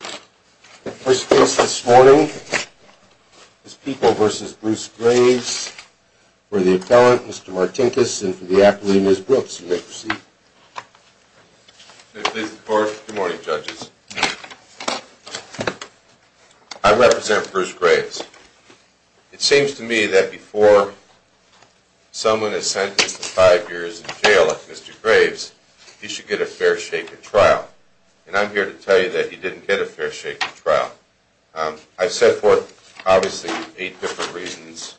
First case this morning is People v. Bruce Graves for the appellant, Mr. Martinkus, and for the applicant, Ms. Brooks. You may proceed. Good morning, judges. I represent Bruce Graves. It seems to me that before someone is sentenced to five years in jail like Mr. Graves, he should get a fair shake of trial. And I'm here to tell you that he didn't get a fair shake of trial. I've set forth, obviously, eight different reasons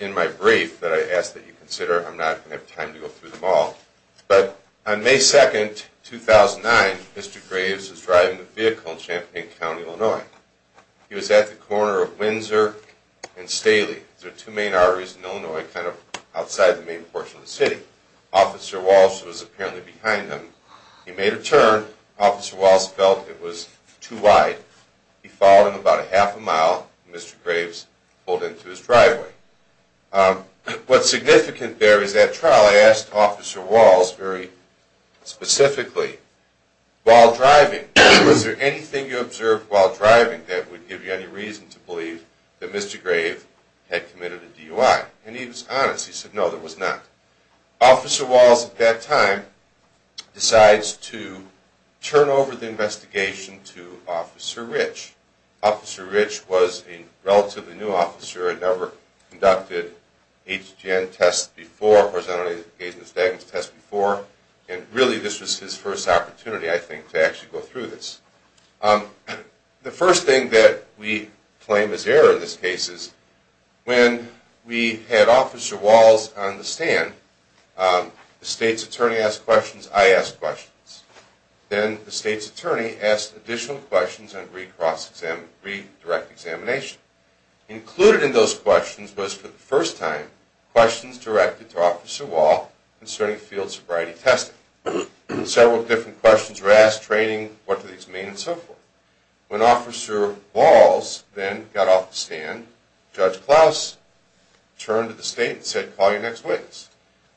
in my brief that I ask that you consider. I'm not going to have time to go through them all. But on May 2nd, 2009, Mr. Graves was driving a vehicle in Champaign County, Illinois. He was at the corner of Windsor and Staley. Those are two main arteries in Illinois, kind of outside the main portion of the city. Officer Walsh was apparently behind him. He made a turn. Officer Walsh felt it was too wide. He followed him about a half a mile, and Mr. Graves pulled into his driveway. What's significant there is that trial, I asked Officer Walsh very specifically, while driving, was there anything you observed while driving that would give you any reason to believe that Mr. Graves had committed a DUI? And he was honest. He said, no, there was not. Officer Walsh, at that time, decides to turn over the investigation to Officer Rich. Officer Rich was a relatively new officer. He'd never conducted HGN tests before, horizontally engaged in a stagnant test before. And really, this was his first opportunity, I think, to actually go through this. The first thing that we claim as error in this case is when we had Officer Walsh on the stand, the state's attorney asked questions, I asked questions. Then the state's attorney asked additional questions on redirect examination. Included in those questions was, for the first time, questions directed to Officer Walsh concerning field sobriety testing. Several different questions were asked, training, what do these mean, and so forth. When Officer Walsh then got off the stand, Judge Klaus turned to the state and said, call your next witness.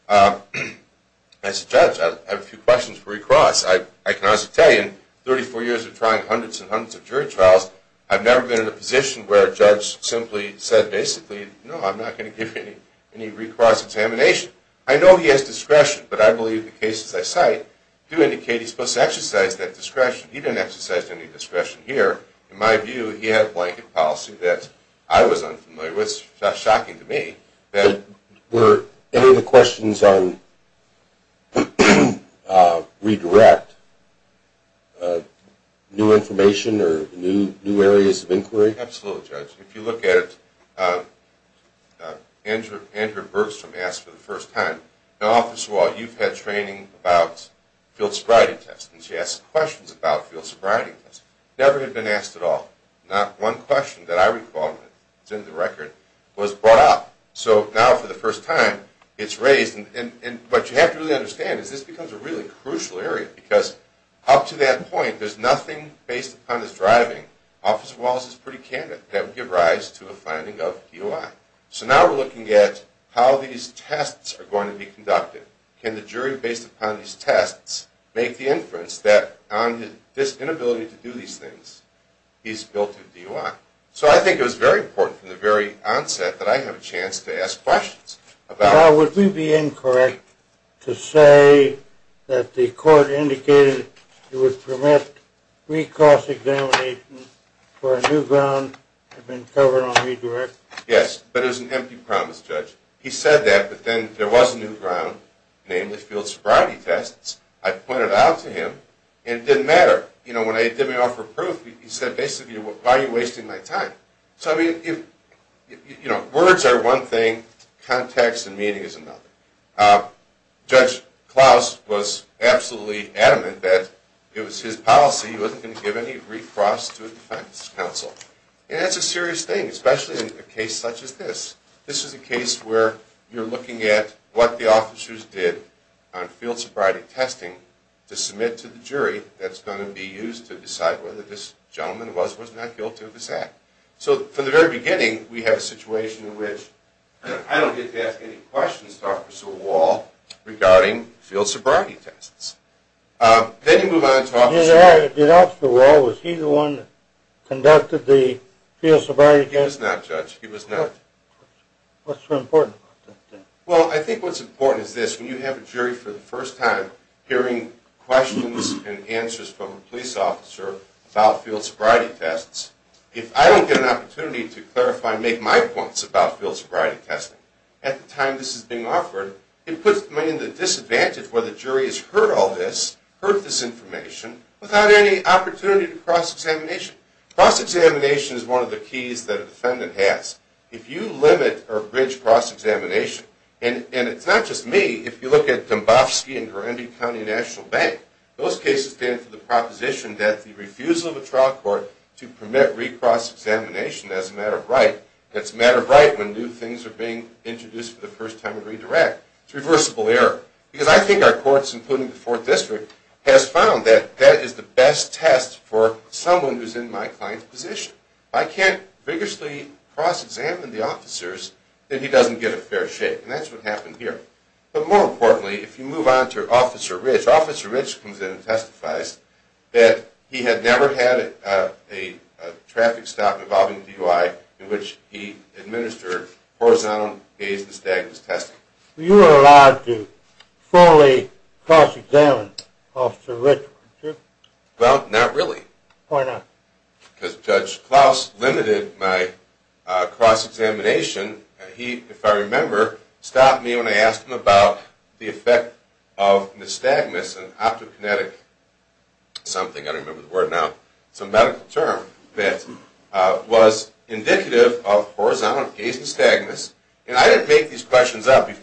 I said, Judge, I have a few questions for recross. I can honestly tell you, in 34 years of trying hundreds and hundreds of jury trials, I've never been in a position where a judge simply said, basically, no, I'm not going to give you any recross examination. I know he has discretion, but I believe the cases I cite do indicate he's supposed to exercise that discretion. He didn't exercise any discretion here. In my view, he had a blanket policy that I was unfamiliar with. It's shocking to me that... Were any of the questions on redirect new information or new areas of inquiry? Absolutely, Judge. If you look at it, Andrew Bergstrom asked for the first time, now, Officer Walsh, you've had training about field sobriety tests, and she asked questions about field sobriety tests. Never had been asked at all. Not one question that I recall that's in the record was brought up. So now, for the first time, it's raised, and what you have to really understand is this becomes a really crucial area, because up to that point, there's nothing based upon his driving. Officer Walsh is pretty candid that would give rise to a finding of DUI. So now we're looking at how these tests are going to be conducted. Can the jury, based upon these tests, make the inference that on his inability to do these things, he's built a DUI? So I think it was very important from the very onset that I have a chance to ask questions about... Now, would we be incorrect to say that the court indicated it would permit recourse examination for a new ground that had been covered on redirect? Yes, but it was an empty promise, Judge. He said that, but then there was a new ground, namely field sobriety tests. I pointed it out to him, and it didn't matter. You know, when they did me off for proof, he said, basically, why are you wasting my time? So, you know, words are one thing, context and meaning is another. Judge Klaus was absolutely adamant that it was his policy he wasn't going to give any recourse to a defense counsel. And that's a serious thing, especially in a case such as this. This is a case where you're looking at what the officers did on field sobriety testing to submit to the jury that's going to be used to decide whether this gentleman was or was not guilty of this act. So from the very beginning, we have a situation in which I don't get to ask any questions to Officer Wall regarding field sobriety tests. Then you move on to Officer... Did Officer Wall, was he the one that conducted the field sobriety tests? He was not, Judge. He was not. What's so important about that? Well, I think what's important is this. When you have a jury for the first time hearing questions and answers from a police officer about field sobriety tests, if I don't get an opportunity to clarify and make my points about field sobriety testing at the time this is being offered, it puts me at a disadvantage where the jury has heard all this, heard this information, without any opportunity to cross-examination. Cross-examination is one of the keys that a defendant has. If you limit or bridge cross-examination, and it's not just me. If you look at Dombofsky and Garambi County National Bank, those cases stand for the proposition that the refusal of a trial court to permit re-cross-examination as a matter of right, that's a matter of right when new things are being introduced for the first time and redirect. It's reversible error. Because I think our courts, including the Fourth District, has found that that is the best test for someone who's in my client's position. I can't vigorously cross-examine the officers, and he doesn't get a fair shake. And that's what happened here. But more importantly, if you move on to Officer Rich, Officer Rich comes in and testifies that he had never had a traffic stop involving DUI in which he administered horizontal gaze-distagnance testing. You are allowed to fully cross-examine Officer Rich, aren't you? Well, not really. Why not? Because Judge Klaus limited my cross-examination. He, if I remember, stopped me when I asked him about the effect of nystagmus and optokinetic something. I don't remember the word now. It's a medical term that was indicative of horizontal gaze-dystagmus. And I didn't make these questions up. I was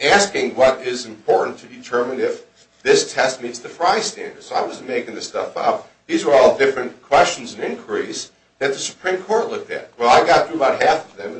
asking what is important to determine if this test meets the Frye standard. So I wasn't making this stuff up. These were all different questions and inquiries that the Supreme Court looked at. Well, I got through about half of them.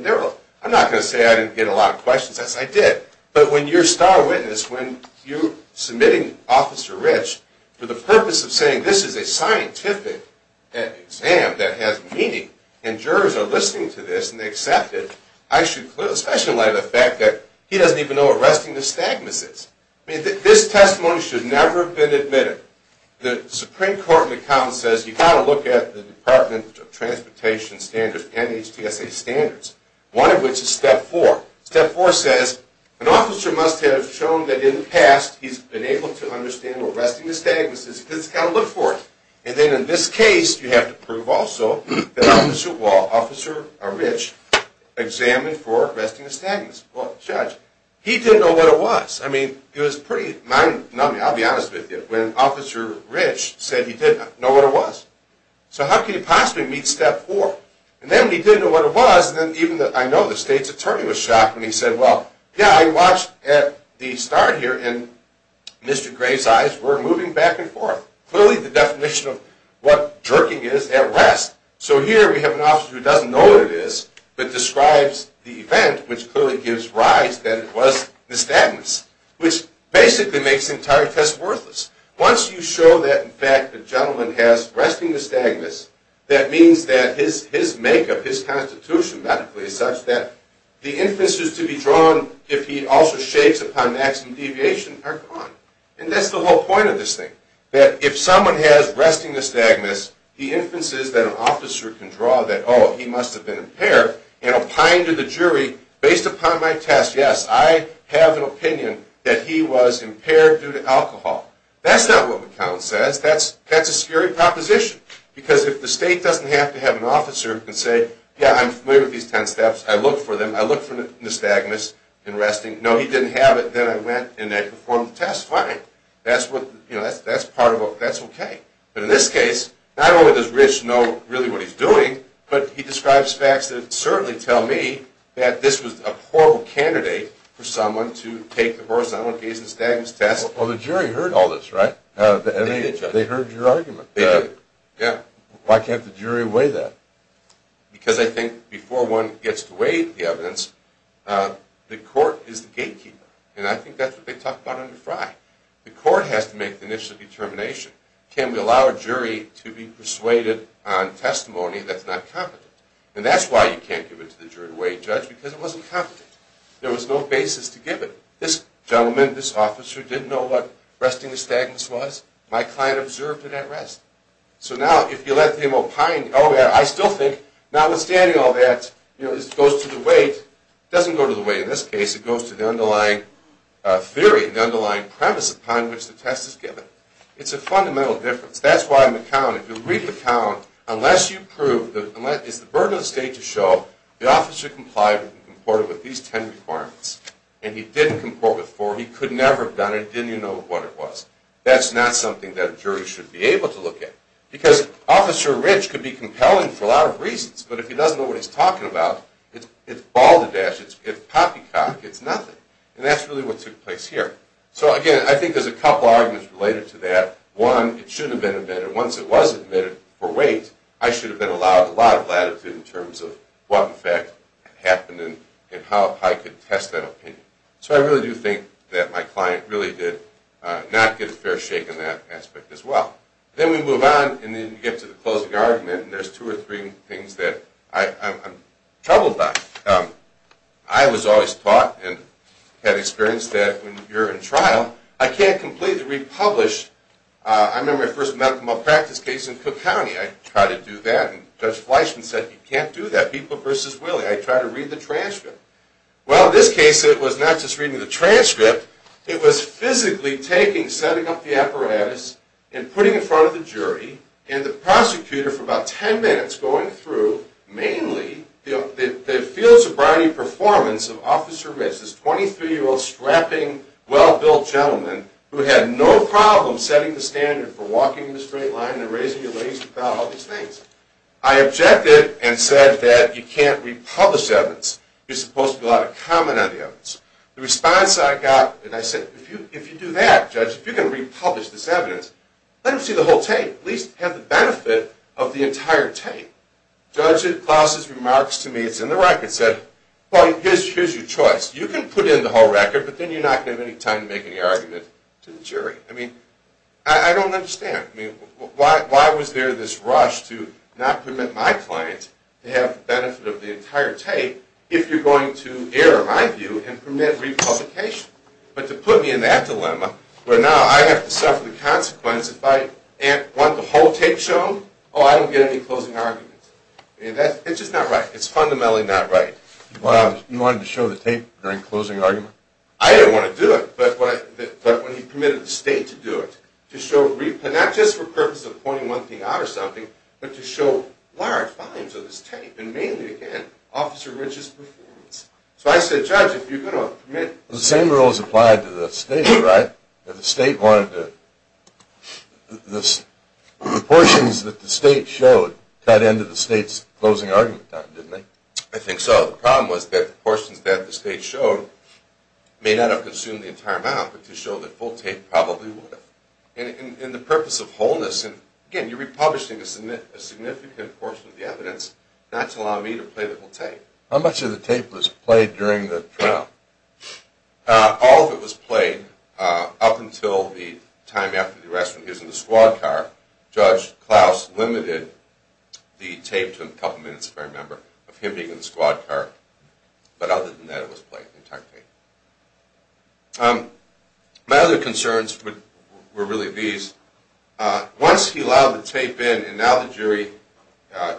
I'm not going to say I didn't get a lot of questions. Yes, I did. But when you're star witness, when you're submitting Officer Rich for the purpose of saying this is a scientific exam that has meaning, and jurors are listening to this and they accept it, I should highlight the fact that he doesn't even know what resting nystagmus is. I mean, this testimony should never have been admitted. The Supreme Court in the comments says you've got to look at the Department of Transportation standards, NHTSA standards, one of which is Step 4. Step 4 says an officer must have shown that in the past he's been able to understand what resting nystagmus is. He's just got to look for it. And then in this case, you have to prove also that Officer Rich examined for resting nystagmus. Well, Judge, he didn't know what it was. I mean, it was pretty numbing, I'll be honest with you, when Officer Rich said he didn't know what it was. So how could he possibly meet Step 4? And then when he didn't know what it was, then even I know the state's attorney was shocked when he said, well, yeah, I watched at the start here, and Mr. Gray's eyes were moving back and forth. Clearly the definition of what jerking is at rest. So here we have an officer who doesn't know what it is, but describes the event, which clearly gives rise that it was nystagmus, which basically makes the entire test worthless. Once you show that, in fact, the gentleman has resting nystagmus, that means that his make of his constitution medically is such that the inferences to be drawn, if he also shakes upon maximum deviation, are gone. And that's the whole point of this thing, that if someone has resting nystagmus, the inferences that an officer can draw that, oh, he must have been impaired, and opine to the jury, based upon my test, yes, I have an opinion that he was impaired due to alcohol. That's not what McCown says. That's a scary proposition, because if the state doesn't have to have an officer who can say, yeah, I'm familiar with these 10 steps, I looked for them, I looked for nystagmus in resting, no, he didn't have it, then I went and I performed the test, fine. That's part of a, that's okay. But in this case, not only does Rich know really what he's doing, but he describes facts that certainly tell me that this was a horrible candidate for someone to take the horizontal case of nystagmus test. Well, the jury heard all this, right? They did, Judge. They heard your argument. They did. Yeah. Why can't the jury weigh that? Because I think before one gets to weigh the evidence, the court is the gatekeeper, and I think that's what they talk about under Frye. The court has to make the initial determination. Can we allow a jury to be persuaded on testimony that's not competent? And that's why you can't give it to the jury to weigh, Judge, because it wasn't competent. There was no basis to give it. This gentleman, this officer, didn't know what resting nystagmus was. My client observed it at rest. So now if you let him opine, oh, yeah, I still think, notwithstanding all that, it goes to the weight. It doesn't go to the weight in this case. It goes to the underlying theory, the underlying premise upon which the test is given. It's a fundamental difference. That's why in the count, if you read the count, unless you prove, it's the burden of the state to show the officer complied and comported with these ten requirements, and he didn't comport with four, he could never have done it, didn't even know what it was. That's not something that a jury should be able to look at, because Officer Rich could be compelling for a lot of reasons, but if he doesn't know what he's talking about, it's balderdash. It's poppycock. It's nothing. And that's really what took place here. So, again, I think there's a couple arguments related to that. One, it should have been admitted. Once it was admitted for weight, I should have been allowed a lot of latitude in terms of what in fact happened and how I could test that opinion. So I really do think that my client really did not get a fair shake in that aspect as well. Then we move on, and then you get to the closing argument, and there's two or three things that I'm troubled by. I was always taught and had experience that when you're in trial, I can't completely republish. I remember my first medical malpractice case in Cook County. I tried to do that, and Judge Fleischman said, you can't do that, people versus will. I tried to read the transcript. Well, in this case, it was not just reading the transcript. It was physically setting up the apparatus and putting it in front of the jury and the prosecutor for about ten minutes going through mainly the field sobriety performance of Officer Rich, this 23-year-old strapping, well-built gentleman who had no problem setting the standard for walking in a straight line and raising your legs without all these things. I objected and said that you can't republish evidence. You're supposed to go out and comment on the evidence. The response I got, and I said, if you do that, Judge, if you're going to republish this evidence, let them see the whole tape. At least have the benefit of the entire tape. Judge Klaus's remarks to me, it's in the record, said, well, here's your choice. You can put in the whole record, but then you're not going to have any time to make any argument to the jury. I mean, I don't understand. Why was there this rush to not permit my client to have the benefit of the entire tape if you're going to err, in my view, and permit republication? But to put me in that dilemma, where now I have to suffer the consequence if I want the whole tape shown, oh, I don't get any closing argument. I mean, it's just not right. It's fundamentally not right. You wanted to show the tape during closing argument? I didn't want to do it, but when he permitted the state to do it, to show not just for the purpose of pointing one thing out or something, but to show large volumes of this tape, and mainly, again, Officer Rich's performance. So I said, Judge, if you're going to permit... The same rules applied to the state, right? If the state wanted to... The portions that the state showed got into the state's closing argument time, didn't they? I think so. The problem was that the portions that the state showed may not have consumed the entire amount, but to show the full tape probably would have. And the purpose of wholeness, again, you're republishing a significant portion of the evidence, not to allow me to play the full tape. How much of the tape was played during the trial? All of it was played up until the time after the arrest when he was in the squad car. Judge Klaus limited the tape to a couple minutes, if I remember, of him being in the squad car. But other than that, it was played, the entire tape. My other concerns were really these. Once he allowed the tape in and now the jury,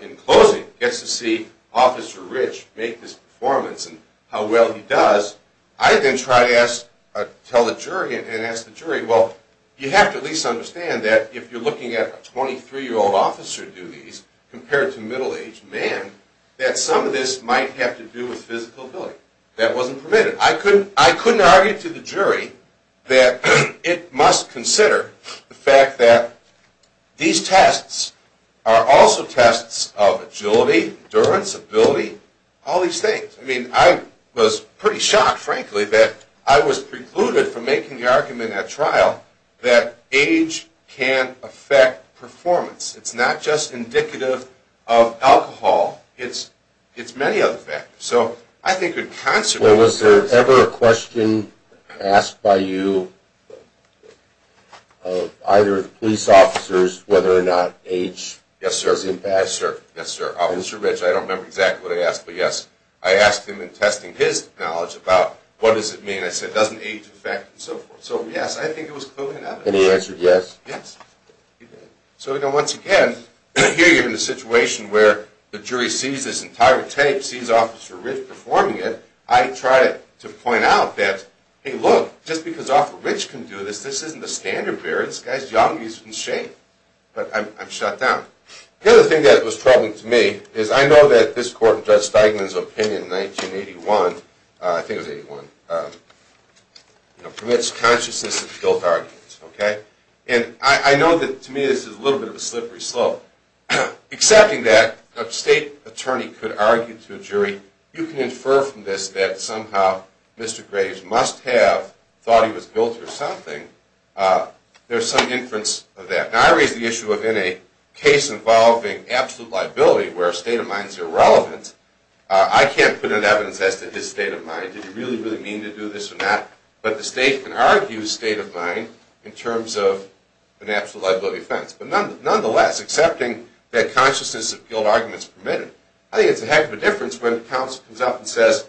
in closing, gets to see Officer Rich make this performance and how well he does, I then try to tell the jury and ask the jury, well, you have to at least understand that if you're looking at a 23-year-old officer do these compared to middle-aged men, that some of this might have to do with physical ability. That wasn't permitted. I couldn't argue to the jury that it must consider the fact that these tests are also tests of agility, endurance, ability, all these things. I mean, I was pretty shocked, frankly, that I was precluded from making the argument at trial that age can affect performance. It's not just indicative of alcohol. It's many other factors. Well, was there ever a question asked by you of either of the police officers whether or not age has impact? Yes, sir. Officer Rich, I don't remember exactly what I asked, but yes, I asked him in testing his knowledge about what does it mean. I said, doesn't age affect and so forth. So, yes, I think it was clearly an evidence. And he answered yes? Yes. So, once again, here you're in a situation where the jury sees this entire tape, sees Officer Rich performing it. I try to point out that, hey, look, just because Officer Rich can do this, this isn't the standard barrier. This guy's young. He's in shape. But I'm shut down. The other thing that was troubling to me is I know that this court, Judge Steigman's opinion in 1981, I think it was 81, permits consciousness of guilt arguments. Okay? And I know that to me this is a little bit of a slippery slope. Accepting that, a state attorney could argue to a jury, you can infer from this that somehow Mr. Graves must have thought he was guilty of something. There's some inference of that. Now, I raise the issue of in a case involving absolute liability where a state of mind is irrelevant, I can't put in evidence as to his state of mind. Did he really, really mean to do this or not? But the state can argue his state of mind in terms of an absolute liability offense. But nonetheless, accepting that consciousness of guilt arguments permitted, I think it's a heck of a difference when counsel comes up and says,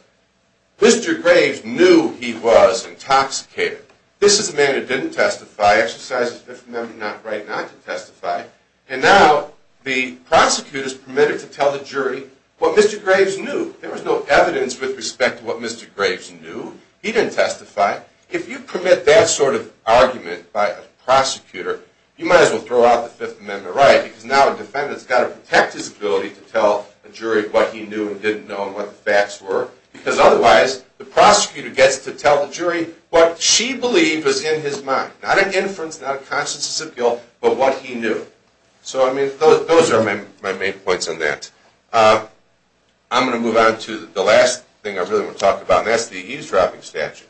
Mr. Graves knew he was intoxicated. This is a man who didn't testify, exercises Fifth Amendment right not to testify, and now the prosecutor's permitted to tell the jury what Mr. Graves knew. There was no evidence with respect to what Mr. Graves knew. He didn't testify. If you permit that sort of argument by a prosecutor, you might as well throw out the Fifth Amendment right because now a defendant's got to protect his ability to tell a jury what he knew and didn't know and what the facts were because otherwise the prosecutor gets to tell the jury what she believed was in his mind. Not an inference, not a consciousness of guilt, but what he knew. So, I mean, those are my main points on that. I'm going to move on to the last thing I really want to talk about, and that's the eavesdropping statute.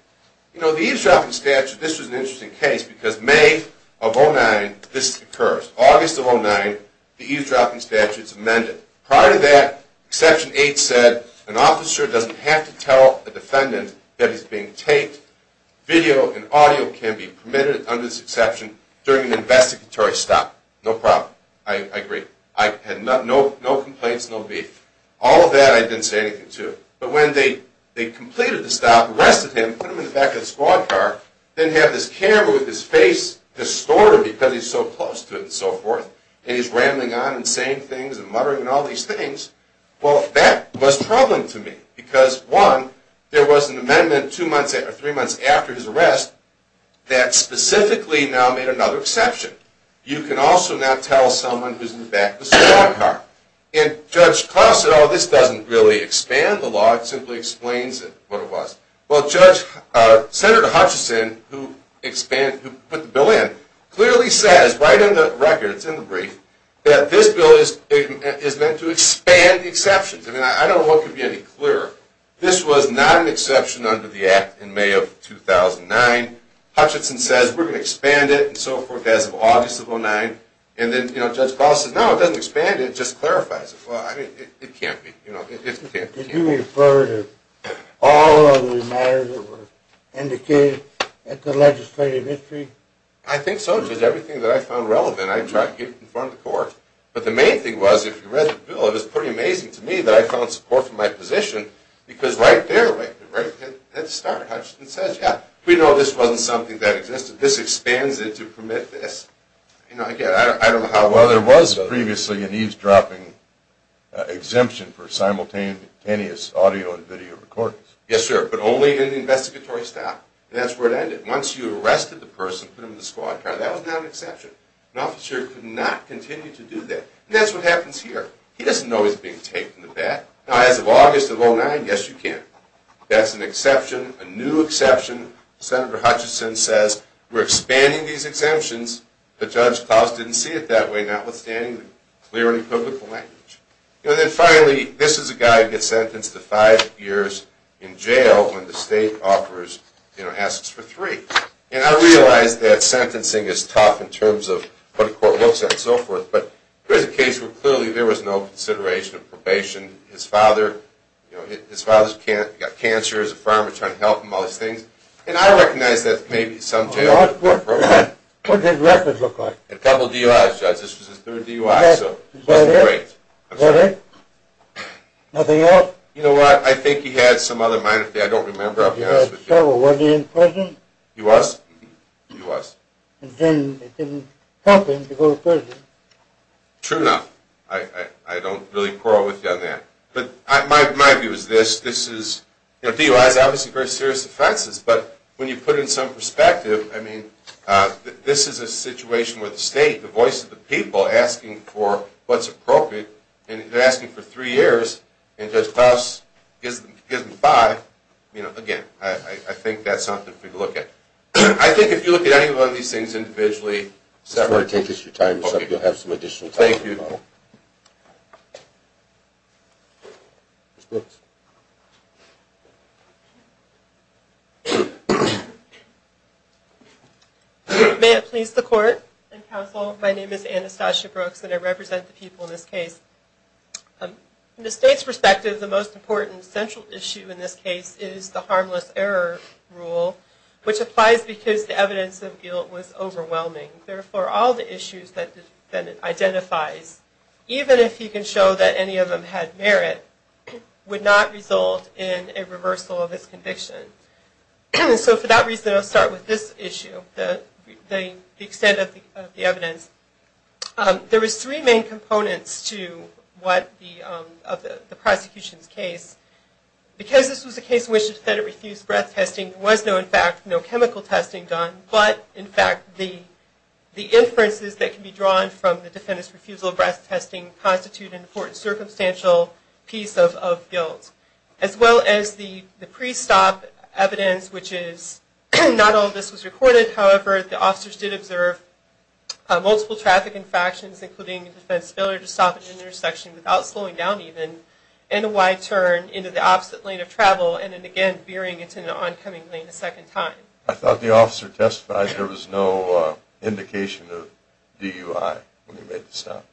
You know, the eavesdropping statute, this was an interesting case because May of 2009, this occurs. August of 2009, the eavesdropping statute's amended. Prior to that, Exception 8 said an officer doesn't have to tell a defendant that he's being taped. Video and audio can be permitted under this exception during an investigatory stop. No problem. I agree. I had no complaints, no beef. All of that I didn't say anything to. But when they completed the stop, arrested him, put him in the back of the squad car, then have this camera with his face distorted because he's so close to it and so forth, and he's rambling on and saying things and muttering and all these things, well, that was troubling to me because, one, there was an amendment two months or three months after his arrest that specifically now made another exception. You can also not tell someone who's in the back of the squad car. And Judge Klaus said, oh, this doesn't really expand the law. It simply explains what it was. Well, Senator Hutchison, who put the bill in, clearly says right in the record, it's in the brief, that this bill is meant to expand the exceptions. I mean, I don't know what could be any clearer. This was not an exception under the Act in May of 2009. Hutchison says we're going to expand it and so forth as of August of 2009. And then Judge Klaus says, no, it doesn't expand it. It just clarifies it. Well, I mean, it can't be. It can't be. Did you refer to all of the matters that were indicated in the legislative history? I think so, Judge. Everything that I found relevant, I tried to get it in front of the court. But the main thing was, if you read the bill, it was pretty amazing to me that I found support for my position because right there, right at the start, Hutchison says, yeah, we know this wasn't something that existed. This expands it to permit this. Well, there was previously an eavesdropping exemption for simultaneous audio and video recordings. Yes, sir. But only in the investigatory style. And that's where it ended. Once you arrested the person, put them in the squad car, that was not an exception. An officer could not continue to do that. And that's what happens here. He doesn't know he's being taped in the back. Now, as of August of 2009, yes, you can. That's an exception, a new exception. Senator Hutchison says, we're expanding these exemptions. But Judge Klaus didn't see it that way, notwithstanding the clearly public language. And then finally, this is a guy who gets sentenced to five years in jail when the state offers, you know, asks for three. And I realize that sentencing is tough in terms of what a court looks at and so forth. But here's a case where clearly there was no consideration of probation. His father, you know, his father's got cancer. As a farmer, trying to help him, all those things. And I recognize that maybe some jail probation. What did records look like? A couple DUIs, Judge. This was his third DUI, so it wasn't great. Was it? Nothing else? You know what? I think he had some other minor thing. I don't remember, I'll be honest with you. He had several. Wasn't he in prison? He was. He was. And then it didn't help him to go to prison. True enough. I don't really quarrel with you on that. But my view is this. This is, you know, DUI is obviously very serious offenses. But when you put it in some perspective, I mean, this is a situation where the state, the voice of the people, asking for what's appropriate, and they're asking for three years, and Judge Faust gives them five. You know, again, I think that's something for you to look at. I think if you look at any one of these things individually. Take your time. You'll have some additional time. Thank you. May it please the Court and Counsel, my name is Anastasia Brooks, and I represent the people in this case. From the state's perspective, the most important central issue in this case is the harmless error rule, which applies because the evidence of guilt was overwhelming. Therefore, all the issues that the defendant identifies, even if he can show that any of them had merit, would not result in a reversal of his conviction. So for that reason, I'll start with this issue, the extent of the evidence. There was three main components to what the prosecution's case. Because this was a case in which the defendant refused breath testing, there was no, in fact, no chemical testing done. But, in fact, the inferences that can be drawn from the defendant's refusal of breath testing constitute an important circumstantial piece of guilt. As well as the pre-stop evidence, which is, not all of this was recorded. However, the officers did observe multiple traffic infractions, including a defense failure to stop at an intersection without slowing down even, and a wide turn into the opposite lane of travel, and then again veering into an oncoming lane a second time. I thought the officer testified there was no indication of DUI when he made the stop.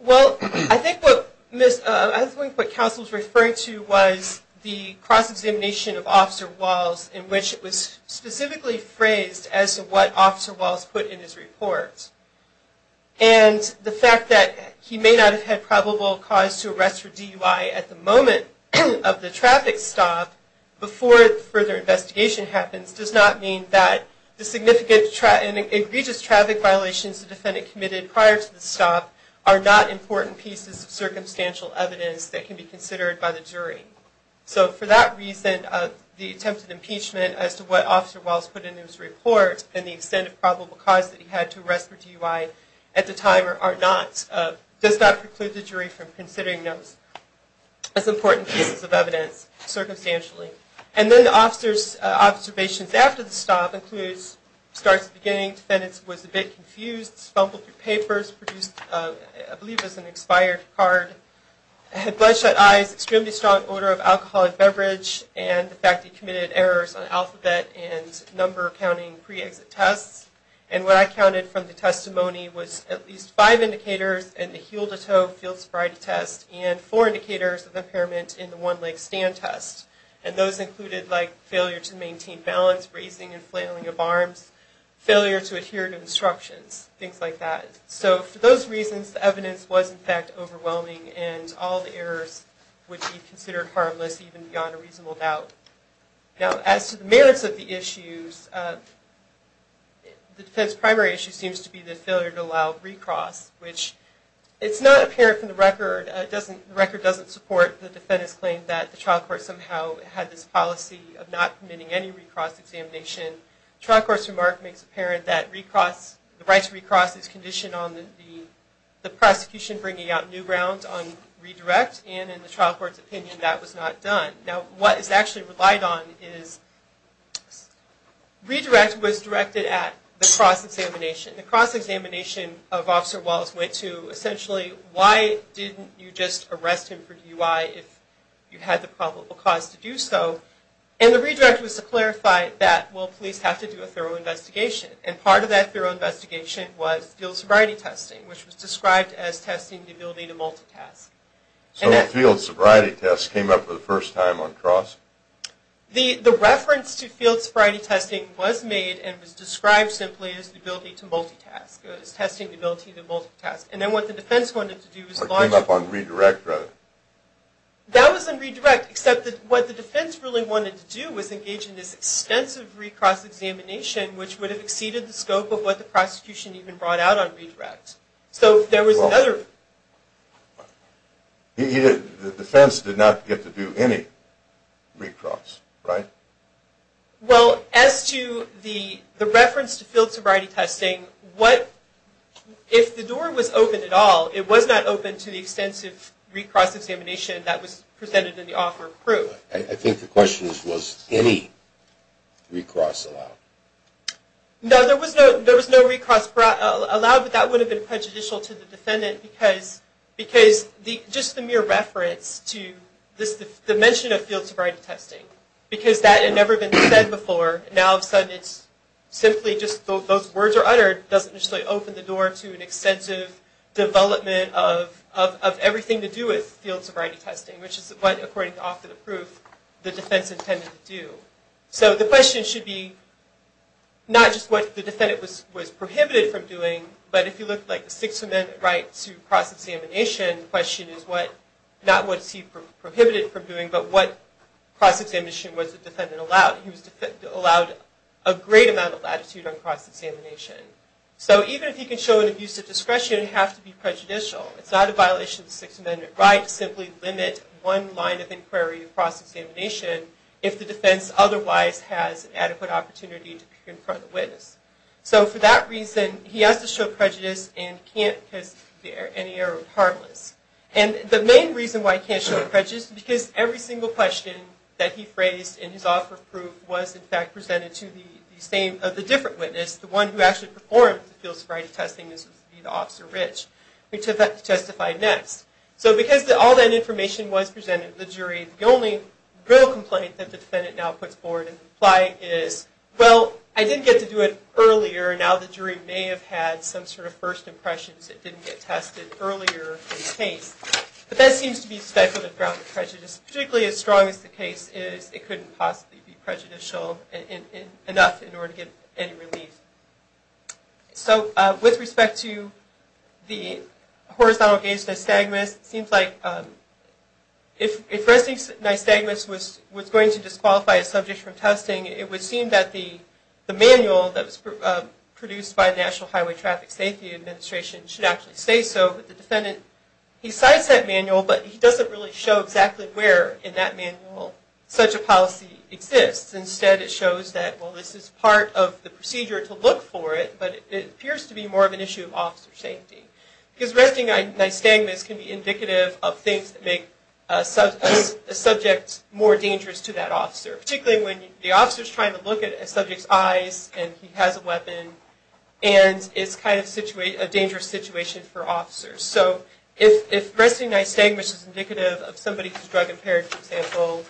Well, I think what counsel was referring to was the cross-examination of Officer Walls, in which it was specifically phrased as to what Officer Walls put in his report. And the fact that he may not have had probable cause to arrest for DUI at the moment of the traffic stop, before further investigation happens, does not mean that the significant and egregious traffic violations the defendant committed prior to the stop are not important pieces of circumstantial evidence that can be considered by the jury. So, for that reason, the attempted impeachment as to what Officer Walls put in his report, and the extent of probable cause that he had to arrest for DUI at the time, does not preclude the jury from considering those as important pieces of evidence, circumstantially. And then the officers' observations after the stop includes, starts at the beginning, the defendant was a bit confused, stumbled through papers, produced, I believe it was an expired card, had bloodshot eyes, extremely strong odor of alcoholic beverage, and the fact that he committed errors on alphabet and number-counting pre-exit tests. And what I counted from the testimony was at least five indicators in the heel-to-toe field sobriety test, and four indicators of impairment in the one-leg stand test. And those included, like, failure to maintain balance, raising and flailing of arms, failure to adhere to instructions, things like that. So, for those reasons, the evidence was, in fact, overwhelming, and all the errors would be considered harmless, even beyond a reasonable doubt. Now, as to the merits of the issues, the defense's primary issue seems to be the failure to allow recross, which it's not apparent from the record, the record doesn't support the defendant's claim that the trial court somehow had this policy of not permitting any recross examination. The trial court's remark makes apparent that the right to recross is conditioned on the prosecution bringing out new ground on redirect, and in the trial court's opinion, that was not done. Now, what is actually relied on is redirect was directed at the cross-examination. The cross-examination of Officer Wallace went to, essentially, why didn't you just arrest him for DUI if you had the probable cause to do so? And the redirect was to clarify that, well, police have to do a thorough investigation. And part of that thorough investigation was field sobriety testing, which was described as testing the ability to multitask. So field sobriety tests came up for the first time on cross? The reference to field sobriety testing was made and was described simply as the ability to multitask, as testing the ability to multitask. And then what the defense wanted to do was… Came up on redirect, rather. That was on redirect, except that what the defense really wanted to do was engage in this extensive recross examination, which would have exceeded the scope of what the prosecution even brought out on redirect. So there was another… The defense did not get to do any recross, right? Well, as to the reference to field sobriety testing, if the door was open at all, it was not open to the extensive recross examination that was presented in the offer of proof. I think the question is, was any recross allowed? No, there was no recross allowed, but that would have been prejudicial to the defendant because just the mere reference to the mention of field sobriety testing, because that had never been said before, now all of a sudden it's simply just those words are uttered, doesn't necessarily open the door to an extensive development of everything to do with field sobriety testing, which is what, according to the offer of proof, the defense intended to do. So the question should be not just what the defendant was prohibited from doing, but if you look at the Sixth Amendment right to recross examination, the question is not what he was prohibited from doing, but what recross examination was the defendant allowed. He was allowed a great amount of latitude on recross examination. So even if he can show an abuse of discretion, it would have to be prejudicial. It's not a violation of the Sixth Amendment right to simply limit one line of inquiry of recross examination if the defense otherwise has an adequate opportunity to confront the witness. So for that reason, he has to show prejudice and can't because any error would be harmless. And the main reason why he can't show prejudice is because every single question that he phrased in his offer of proof was in fact presented to the different witness, the one who actually performed the field sobriety testing, which would be the Officer Rich, which he had to testify next. So because all that information was presented to the jury, the only real complaint that the defendant now puts forward in the plight is, well, I didn't get to do it earlier, now the jury may have had some sort of first impressions that didn't get tested earlier in the case. But that seems to be a speculative ground of prejudice, particularly as strong as the case is, it couldn't possibly be prejudicial enough in order to get any relief. So with respect to the horizontal-gauge nystagmus, it seems like if Resnick's nystagmus was going to disqualify a subject from testing, it would seem that the manual that was produced by the National Highway Traffic Safety Administration should actually say so. But the defendant, he cites that manual, but he doesn't really show exactly where in that manual such a policy exists. Instead, it shows that, well, this is part of the procedure to look for it, but it appears to be more of an issue of officer safety. Because resting nystagmus can be indicative of things that make a subject more dangerous to that officer, particularly when the officer's trying to look at a subject's eyes and he has a weapon, and it's kind of a dangerous situation for officers. So if resting nystagmus is indicative of somebody who's drug-impaired, for example,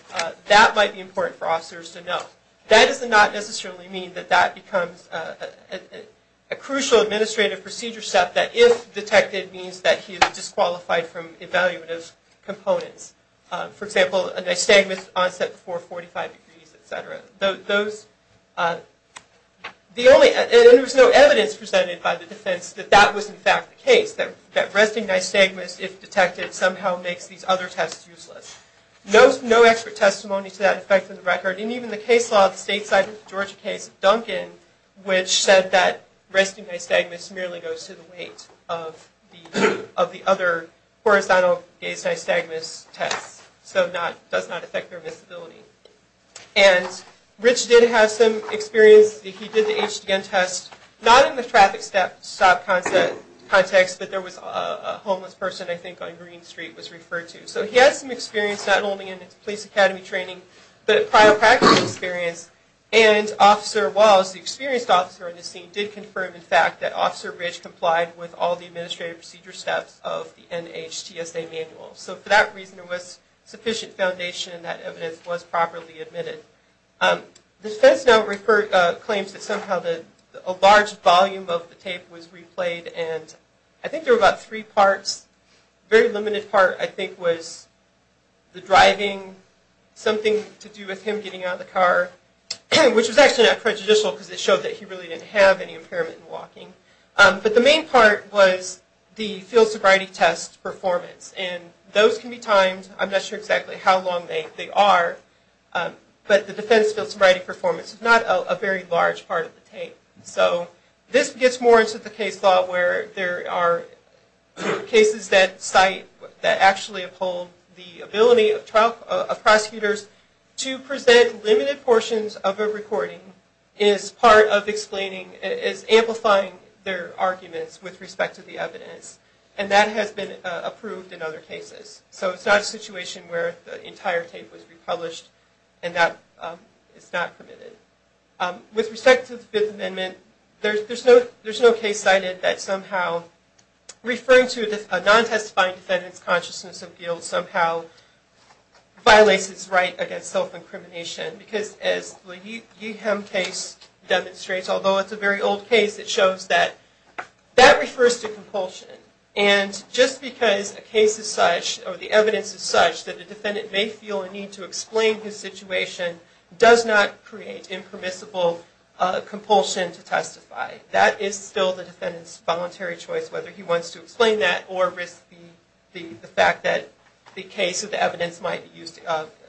that might be important for officers to know. That does not necessarily mean that that becomes a crucial administrative procedure step, that if detected means that he is disqualified from evaluative components. For example, a nystagmus onset before 45 degrees, et cetera. There was no evidence presented by the defense that that was in fact the case, that resting nystagmus, if detected, somehow makes these other tests useless. No expert testimony to that effect on the record, and even the case law of the state cited the Georgia case of Duncan, which said that resting nystagmus merely goes to the weight of the other horizontal gaze nystagmus tests. So it does not affect their visibility. And Rich did have some experience. He did the HDN test, not in the traffic stop context, but there was a homeless person, I think, on Green Street was referred to. So he had some experience, not only in police academy training, but prior practice experience. And Officer Wallace, the experienced officer on the scene, did confirm, in fact, that Officer Rich complied with all the administrative procedure steps of the NHTSA manual. So for that reason, there was sufficient foundation that evidence was properly admitted. The defense now claims that somehow a large volume of the tape was replayed, and I think there were about three parts. The very limited part, I think, was the driving, something to do with him getting out of the car, which was actually not prejudicial because it showed that he really didn't have any impairment in walking. But the main part was the field sobriety test performance. And those can be timed. I'm not sure exactly how long they are, but the defense field sobriety performance is not a very large part of the tape. So this gets more into the case law where there are cases that cite, that actually uphold the ability of prosecutors to present limited portions of a recording as part of explaining, as amplifying their arguments with respect to the evidence. And that has been approved in other cases. So it's not a situation where the entire tape was republished, and that is not permitted. With respect to the Fifth Amendment, there's no case cited that somehow referring to a non-testifying defendant's consciousness of guilt somehow violates his right against self-incrimination. Because as the Yeeham case demonstrates, although it's a very old case, it shows that that refers to compulsion. And just because a case is such, or the evidence is such, that a defendant may feel a need to explain his situation does not create impermissible compulsion to testify. That is still the defendant's voluntary choice, whether he wants to explain that or risk the fact that the case or the evidence might be used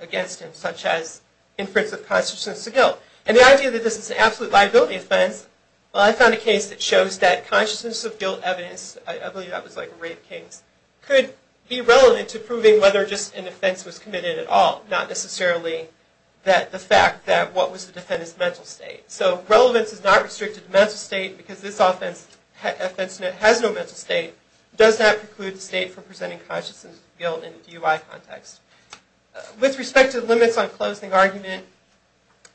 against him, such as inference of consciousness of guilt. And the idea that this is an absolute liability offense, well I found a case that shows that consciousness of guilt evidence, I believe that was like Rape Kings, could be relevant to proving whether just an offense was committed at all, not necessarily the fact that what was the defendant's mental state. So relevance is not restricted to mental state, because this offense has no mental state, does not preclude the state from presenting consciousness of guilt in a DUI context. With respect to the limits on closing argument,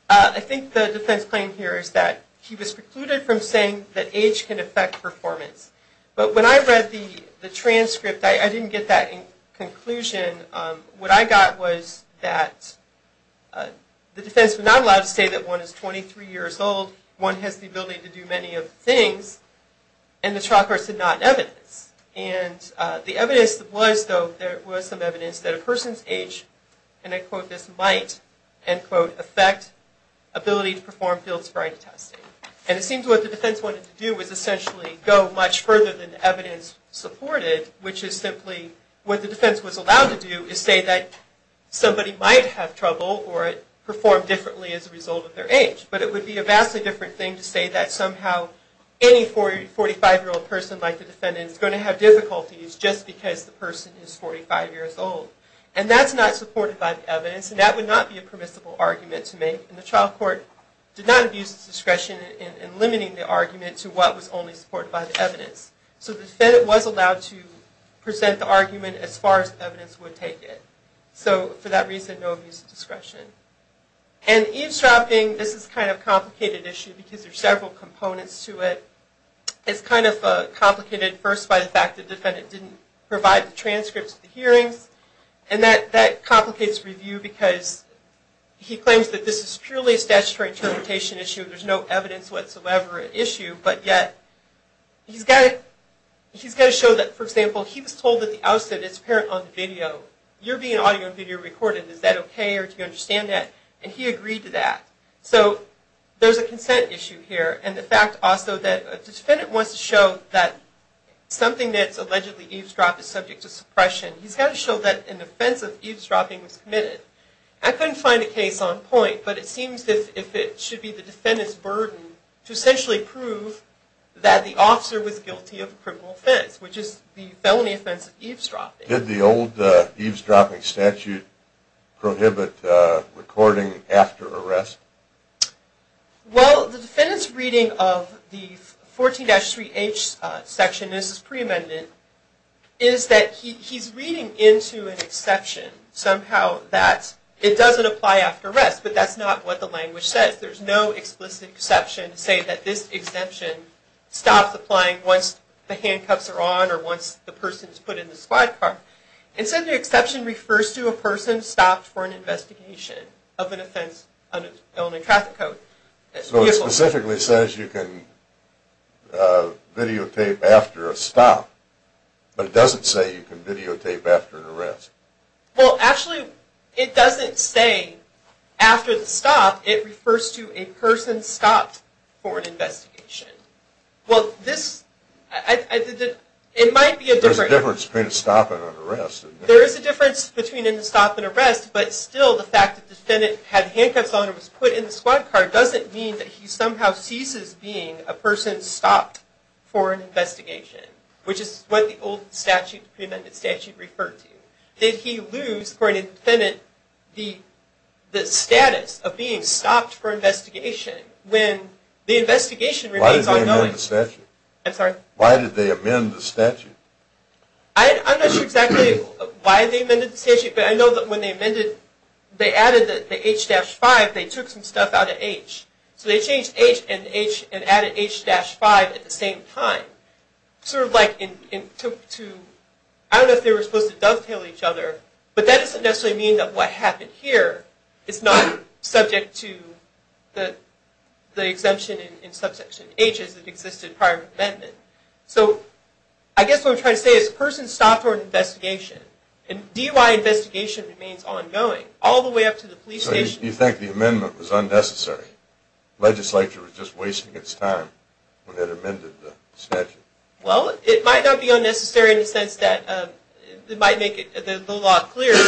I think the defense claim here is that he was precluded from saying that age can affect performance. But when I read the transcript, I didn't get that conclusion. What I got was that the defense was not allowed to say that one is 23 years old, one has the ability to do many of the things, and the trial court said not in evidence. And the evidence was, though, there was some evidence that a person's age, and I quote this, might, end quote, affect ability to perform field sprite testing. And it seems what the defense wanted to do was essentially go much further than the evidence supported, which is simply what the defense was allowed to do is say that somebody might have trouble or perform differently as a result of their age. But it would be a vastly different thing to say that somehow any 45-year-old person like the defendant is going to have difficulties just because the person is 45 years old. And that's not supported by the evidence, and that would not be a permissible argument to make. And the trial court did not abuse its discretion in limiting the argument to what was only supported by the evidence. So the defendant was allowed to present the argument as far as the evidence would take it. So for that reason, no abuse of discretion. And eavesdropping, this is kind of a complicated issue because there are several components to it. It's kind of complicated first by the fact that the defendant didn't provide the transcripts of the hearings. And that complicates review because he claims that this is purely a statutory interpretation issue. There's no evidence whatsoever at issue. But yet he's got to show that, for example, he was told that the outset is apparent on the video. You're being audio and video recorded. Is that okay or do you understand that? And he agreed to that. So there's a consent issue here. And the fact also that the defendant wants to show that something that's allegedly eavesdropped is subject to suppression. He's got to show that an offense of eavesdropping was committed. I couldn't find a case on point. But it seems as if it should be the defendant's burden to essentially prove that the officer was guilty of a criminal offense, which is the felony offense of eavesdropping. Did the old eavesdropping statute prohibit recording after arrest? Well, the defendant's reading of the 14-3H section, and this is pre-amendment, is that he's reading into an exception somehow that it doesn't apply after arrest. But that's not what the language says. There's no explicit exception to say that this exemption stops applying once the handcuffs are on or once the person is put in the squad car. It says the exception refers to a person stopped for an investigation of an offense under felony traffic code. So it specifically says you can videotape after a stop, but it doesn't say you can videotape after an arrest. Well, actually, it doesn't say after the stop. It refers to a person stopped for an investigation. Well, this – it might be a different – There is a difference between a stop and arrest, but still the fact that the defendant had the handcuffs on and was put in the squad car doesn't mean that he somehow ceases being a person stopped for an investigation, which is what the old statute, pre-amendment statute, referred to. Did he lose, according to the defendant, the status of being stopped for investigation when the investigation remains ongoing? Why did they amend the statute? I'm sorry? Why did they amend the statute? I'm not sure exactly why they amended the statute, but I know that when they amended – they added the H-5, they took some stuff out of H. So they changed H and added H-5 at the same time. Sort of like in – I don't know if they were supposed to dovetail each other, but that doesn't necessarily mean that what happened here is not subject to the exemption in subsection H as it existed prior to amendment. So I guess what I'm trying to say is a person stopped for an investigation, and DUI investigation remains ongoing all the way up to the police station. So you think the amendment was unnecessary? The legislature was just wasting its time when it amended the statute. Well, it might not be unnecessary in the sense that it might make the law clearer,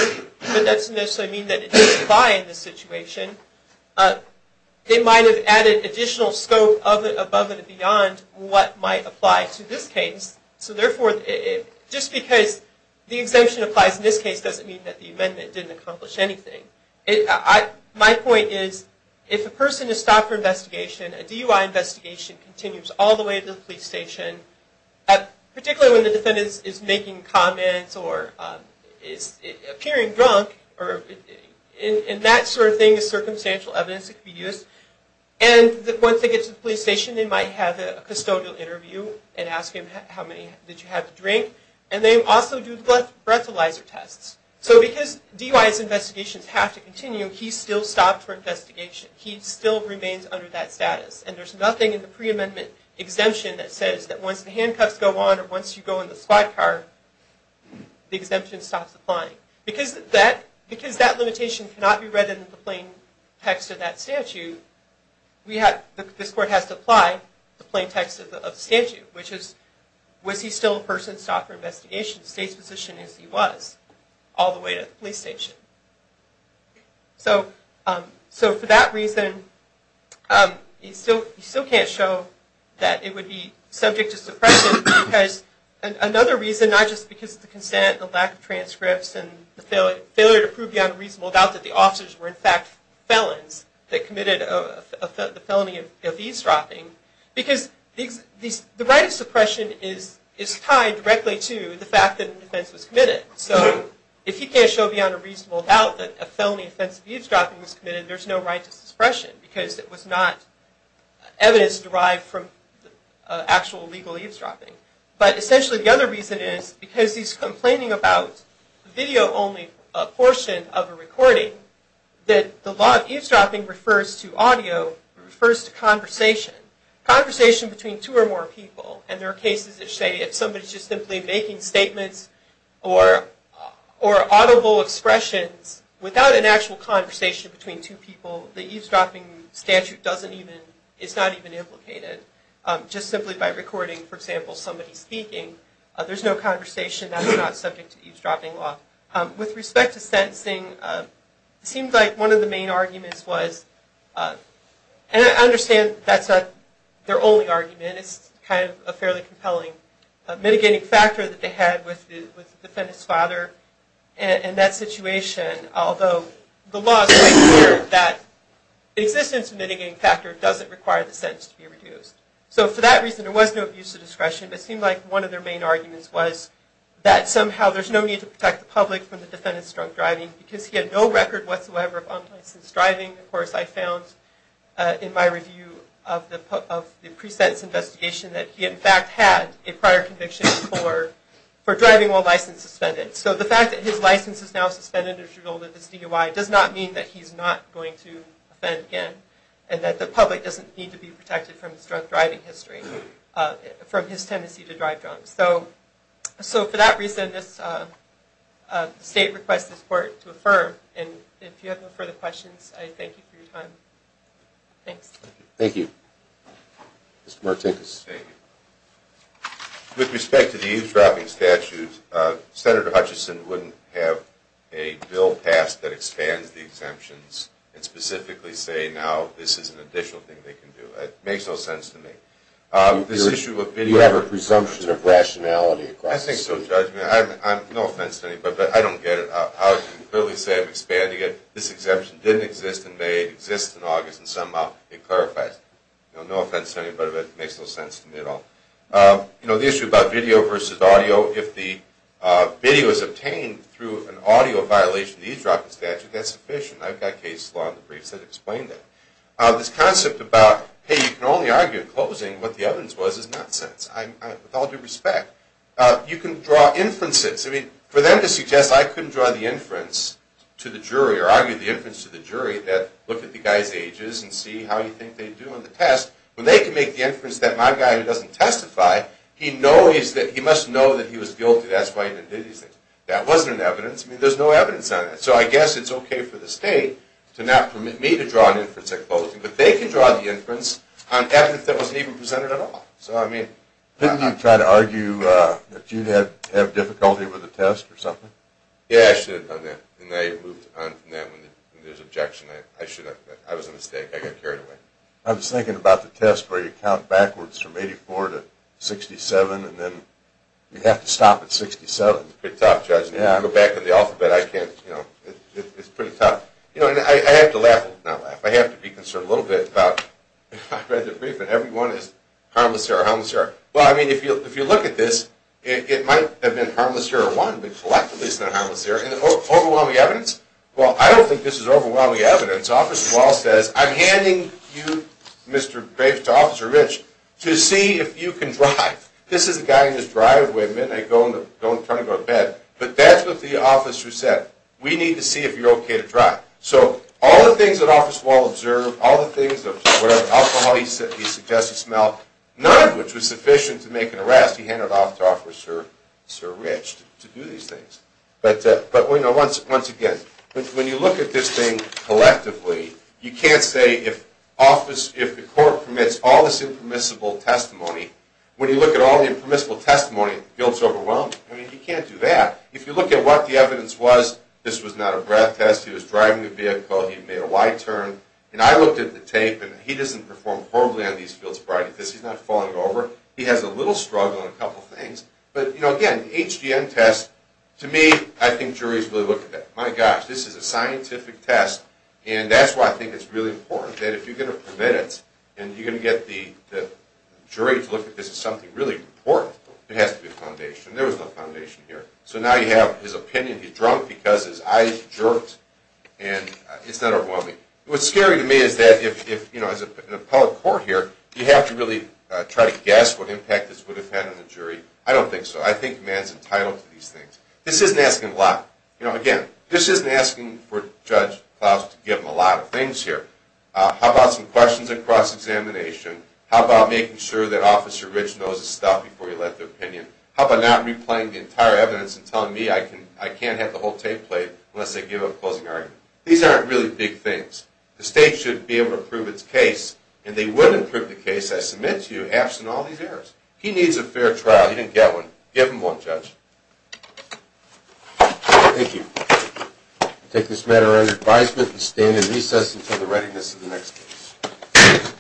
but that doesn't necessarily mean that it doesn't apply in this situation. It might have added additional scope above and beyond what might apply to this case. So therefore, just because the exemption applies in this case doesn't mean that the amendment didn't accomplish anything. My point is, if a person is stopped for investigation, a DUI investigation continues all the way to the police station, particularly when the defendant is making comments or is appearing drunk, and that sort of thing is circumstantial evidence that could be used, and once they get to the police station, they might have a custodial interview and ask him how many did you have to drink, and they also do breathalyzer tests. So because DUI's investigations have to continue, he still stopped for investigation. He still remains under that status, and there's nothing in the pre-amendment exemption that says that once the handcuffs go on or once you go in the squad car, the exemption stops applying. Because that limitation cannot be read in the plain text of that statute, this court has to apply the plain text of the statute, which is, was he still a person stopped for investigation, state's position is he was, all the way to the police station. So for that reason, you still can't show that it would be subject to suppression, because another reason, not just because of the consent, the lack of transcripts, and the failure to prove beyond a reasonable doubt that the officers were in fact felons that committed the felony of eavesdropping, because the right of suppression is tied directly to the fact that an offense was committed. So if you can't show beyond a reasonable doubt that a felony offense of eavesdropping was committed, there's no right to suppression, because it was not evidence derived from actual legal eavesdropping. But essentially the other reason is, because he's complaining about the video only portion of a recording, that the law of eavesdropping refers to audio, refers to conversation. Conversation between two or more people. And there are cases that say if somebody's just simply making statements or audible expressions, without an actual conversation between two people, the eavesdropping statute doesn't even, it's not even implicated. Just simply by recording, for example, somebody speaking, there's no conversation that's not subject to eavesdropping law. With respect to sentencing, it seems like one of the main arguments was, and I understand that's not their only argument, it's kind of a fairly compelling mitigating factor that they had with the defendant's father in that situation, although the law makes it clear that the existence of a mitigating factor doesn't require the sentence to be reduced. So for that reason, there was no abuse of discretion, but it seemed like one of their main arguments was that somehow there's no need to protect the public from the defendant's drunk driving, because he had no record whatsoever of unlicensed driving. Of course, I found in my review of the pre-sentence investigation, that he in fact had a prior conviction for driving while licensed suspended. So the fact that his license is now suspended as a result of this DUI does not mean that he's not going to offend again, and that the public doesn't need to be protected from his drunk driving history, from his tendency to drive drunk. So for that reason, this state requests this court to affirm, and if you have no further questions, I thank you for your time. Thanks. Thank you. Mr. Martinez. Thank you. With respect to the eavesdropping statute, Senator Hutchison wouldn't have a bill passed that expands the exemptions and specifically say now this is an additional thing they can do. It makes no sense to me. Do you have a presumption of rationality? I think so, Judge. No offense to anybody, but I don't get it. I would clearly say I'm expanding it. This exemption didn't exist in May. It exists in August, and somehow it clarifies it. No offense to anybody, but it makes no sense to me at all. The issue about video versus audio, if the video is obtained through an audio violation of the eavesdropping statute, that's sufficient. I've got case law in the briefs that explain that. This concept about, hey, you can only argue in closing, what the evidence was is nonsense. With all due respect, you can draw inferences. I mean, for them to suggest I couldn't draw the inference to the jury or argue the inference to the jury that look at the guy's ages and see how you think they do on the test, when they can make the inference that my guy who doesn't testify, he must know that he was guilty. That's why he didn't do these things. That wasn't an evidence. I mean, there's no evidence on that. So I guess it's okay for the state to not permit me to draw an inference at closing, but they can draw the inference on evidence that wasn't even presented at all. Didn't you try to argue that you'd have difficulty with the test or something? Yeah, I should have done that, and I moved on from that when there's objection. I should have. I was a mistake. I got carried away. I was thinking about the test where you count backwards from 84 to 67, and then you have to stop at 67. Good talk, Judge. If you go back to the alphabet, I can't, you know, it's pretty tough. You know, and I have to laugh, not laugh. I have to be concerned a little bit about if I read the brief and every one is harmless error, harmless error. Well, I mean, if you look at this, it might have been harmless error one, but collectively it's not harmless error. And the overwhelming evidence, well, I don't think this is overwhelming evidence. Officer Wall says, I'm handing you, Mr. Graves, to Officer Rich to see if you can drive. This is a guy in his driveway, men are trying to go to bed, but that's what the officer said. We need to see if you're okay to drive. So all the things that Officer Wall observed, all the things, alcohol he suggested to smell, none of which was sufficient to make an arrest, he handed it off to Officer Rich to do these things. But, you know, once again, when you look at this thing collectively, you can't say if the court permits all this impermissible testimony, when you look at all the impermissible testimony, it feels overwhelming. I mean, you can't do that. If you look at what the evidence was, this was not a breath test, he was driving the vehicle, he made a wide turn, and I looked at the tape, and he doesn't perform horribly on these fields of crime, because he's not falling over. He has a little struggle on a couple of things. But, you know, again, to me, I think juries really look at that. My gosh, this is a scientific test, and that's why I think it's really important that if you're going to permit it, and you're going to get the jury to look at this as something really important, it has to be a foundation. There was no foundation here. So now you have his opinion. He's drunk because his eyes jerked, and it's not overwhelming. What's scary to me is that if, you know, as an appellate court here, you have to really try to guess what impact this would have had on the jury. I don't think so. I think man's entitled to these things. This isn't asking a lot. You know, again, this isn't asking for Judge Klaus to give him a lot of things here. How about some questions at cross-examination? How about making sure that Officer Rich knows his stuff before you let their opinion? How about not replaying the entire evidence and telling me I can't have the whole tape played unless they give a closing argument? These aren't really big things. The state should be able to prove its case, and they would improve the case, I submit to you, absent all these errors. He needs a fair trial. He didn't get one. Give him one, Judge. Thank you. I take this matter under advisement and stand in recess until the readiness of the next case.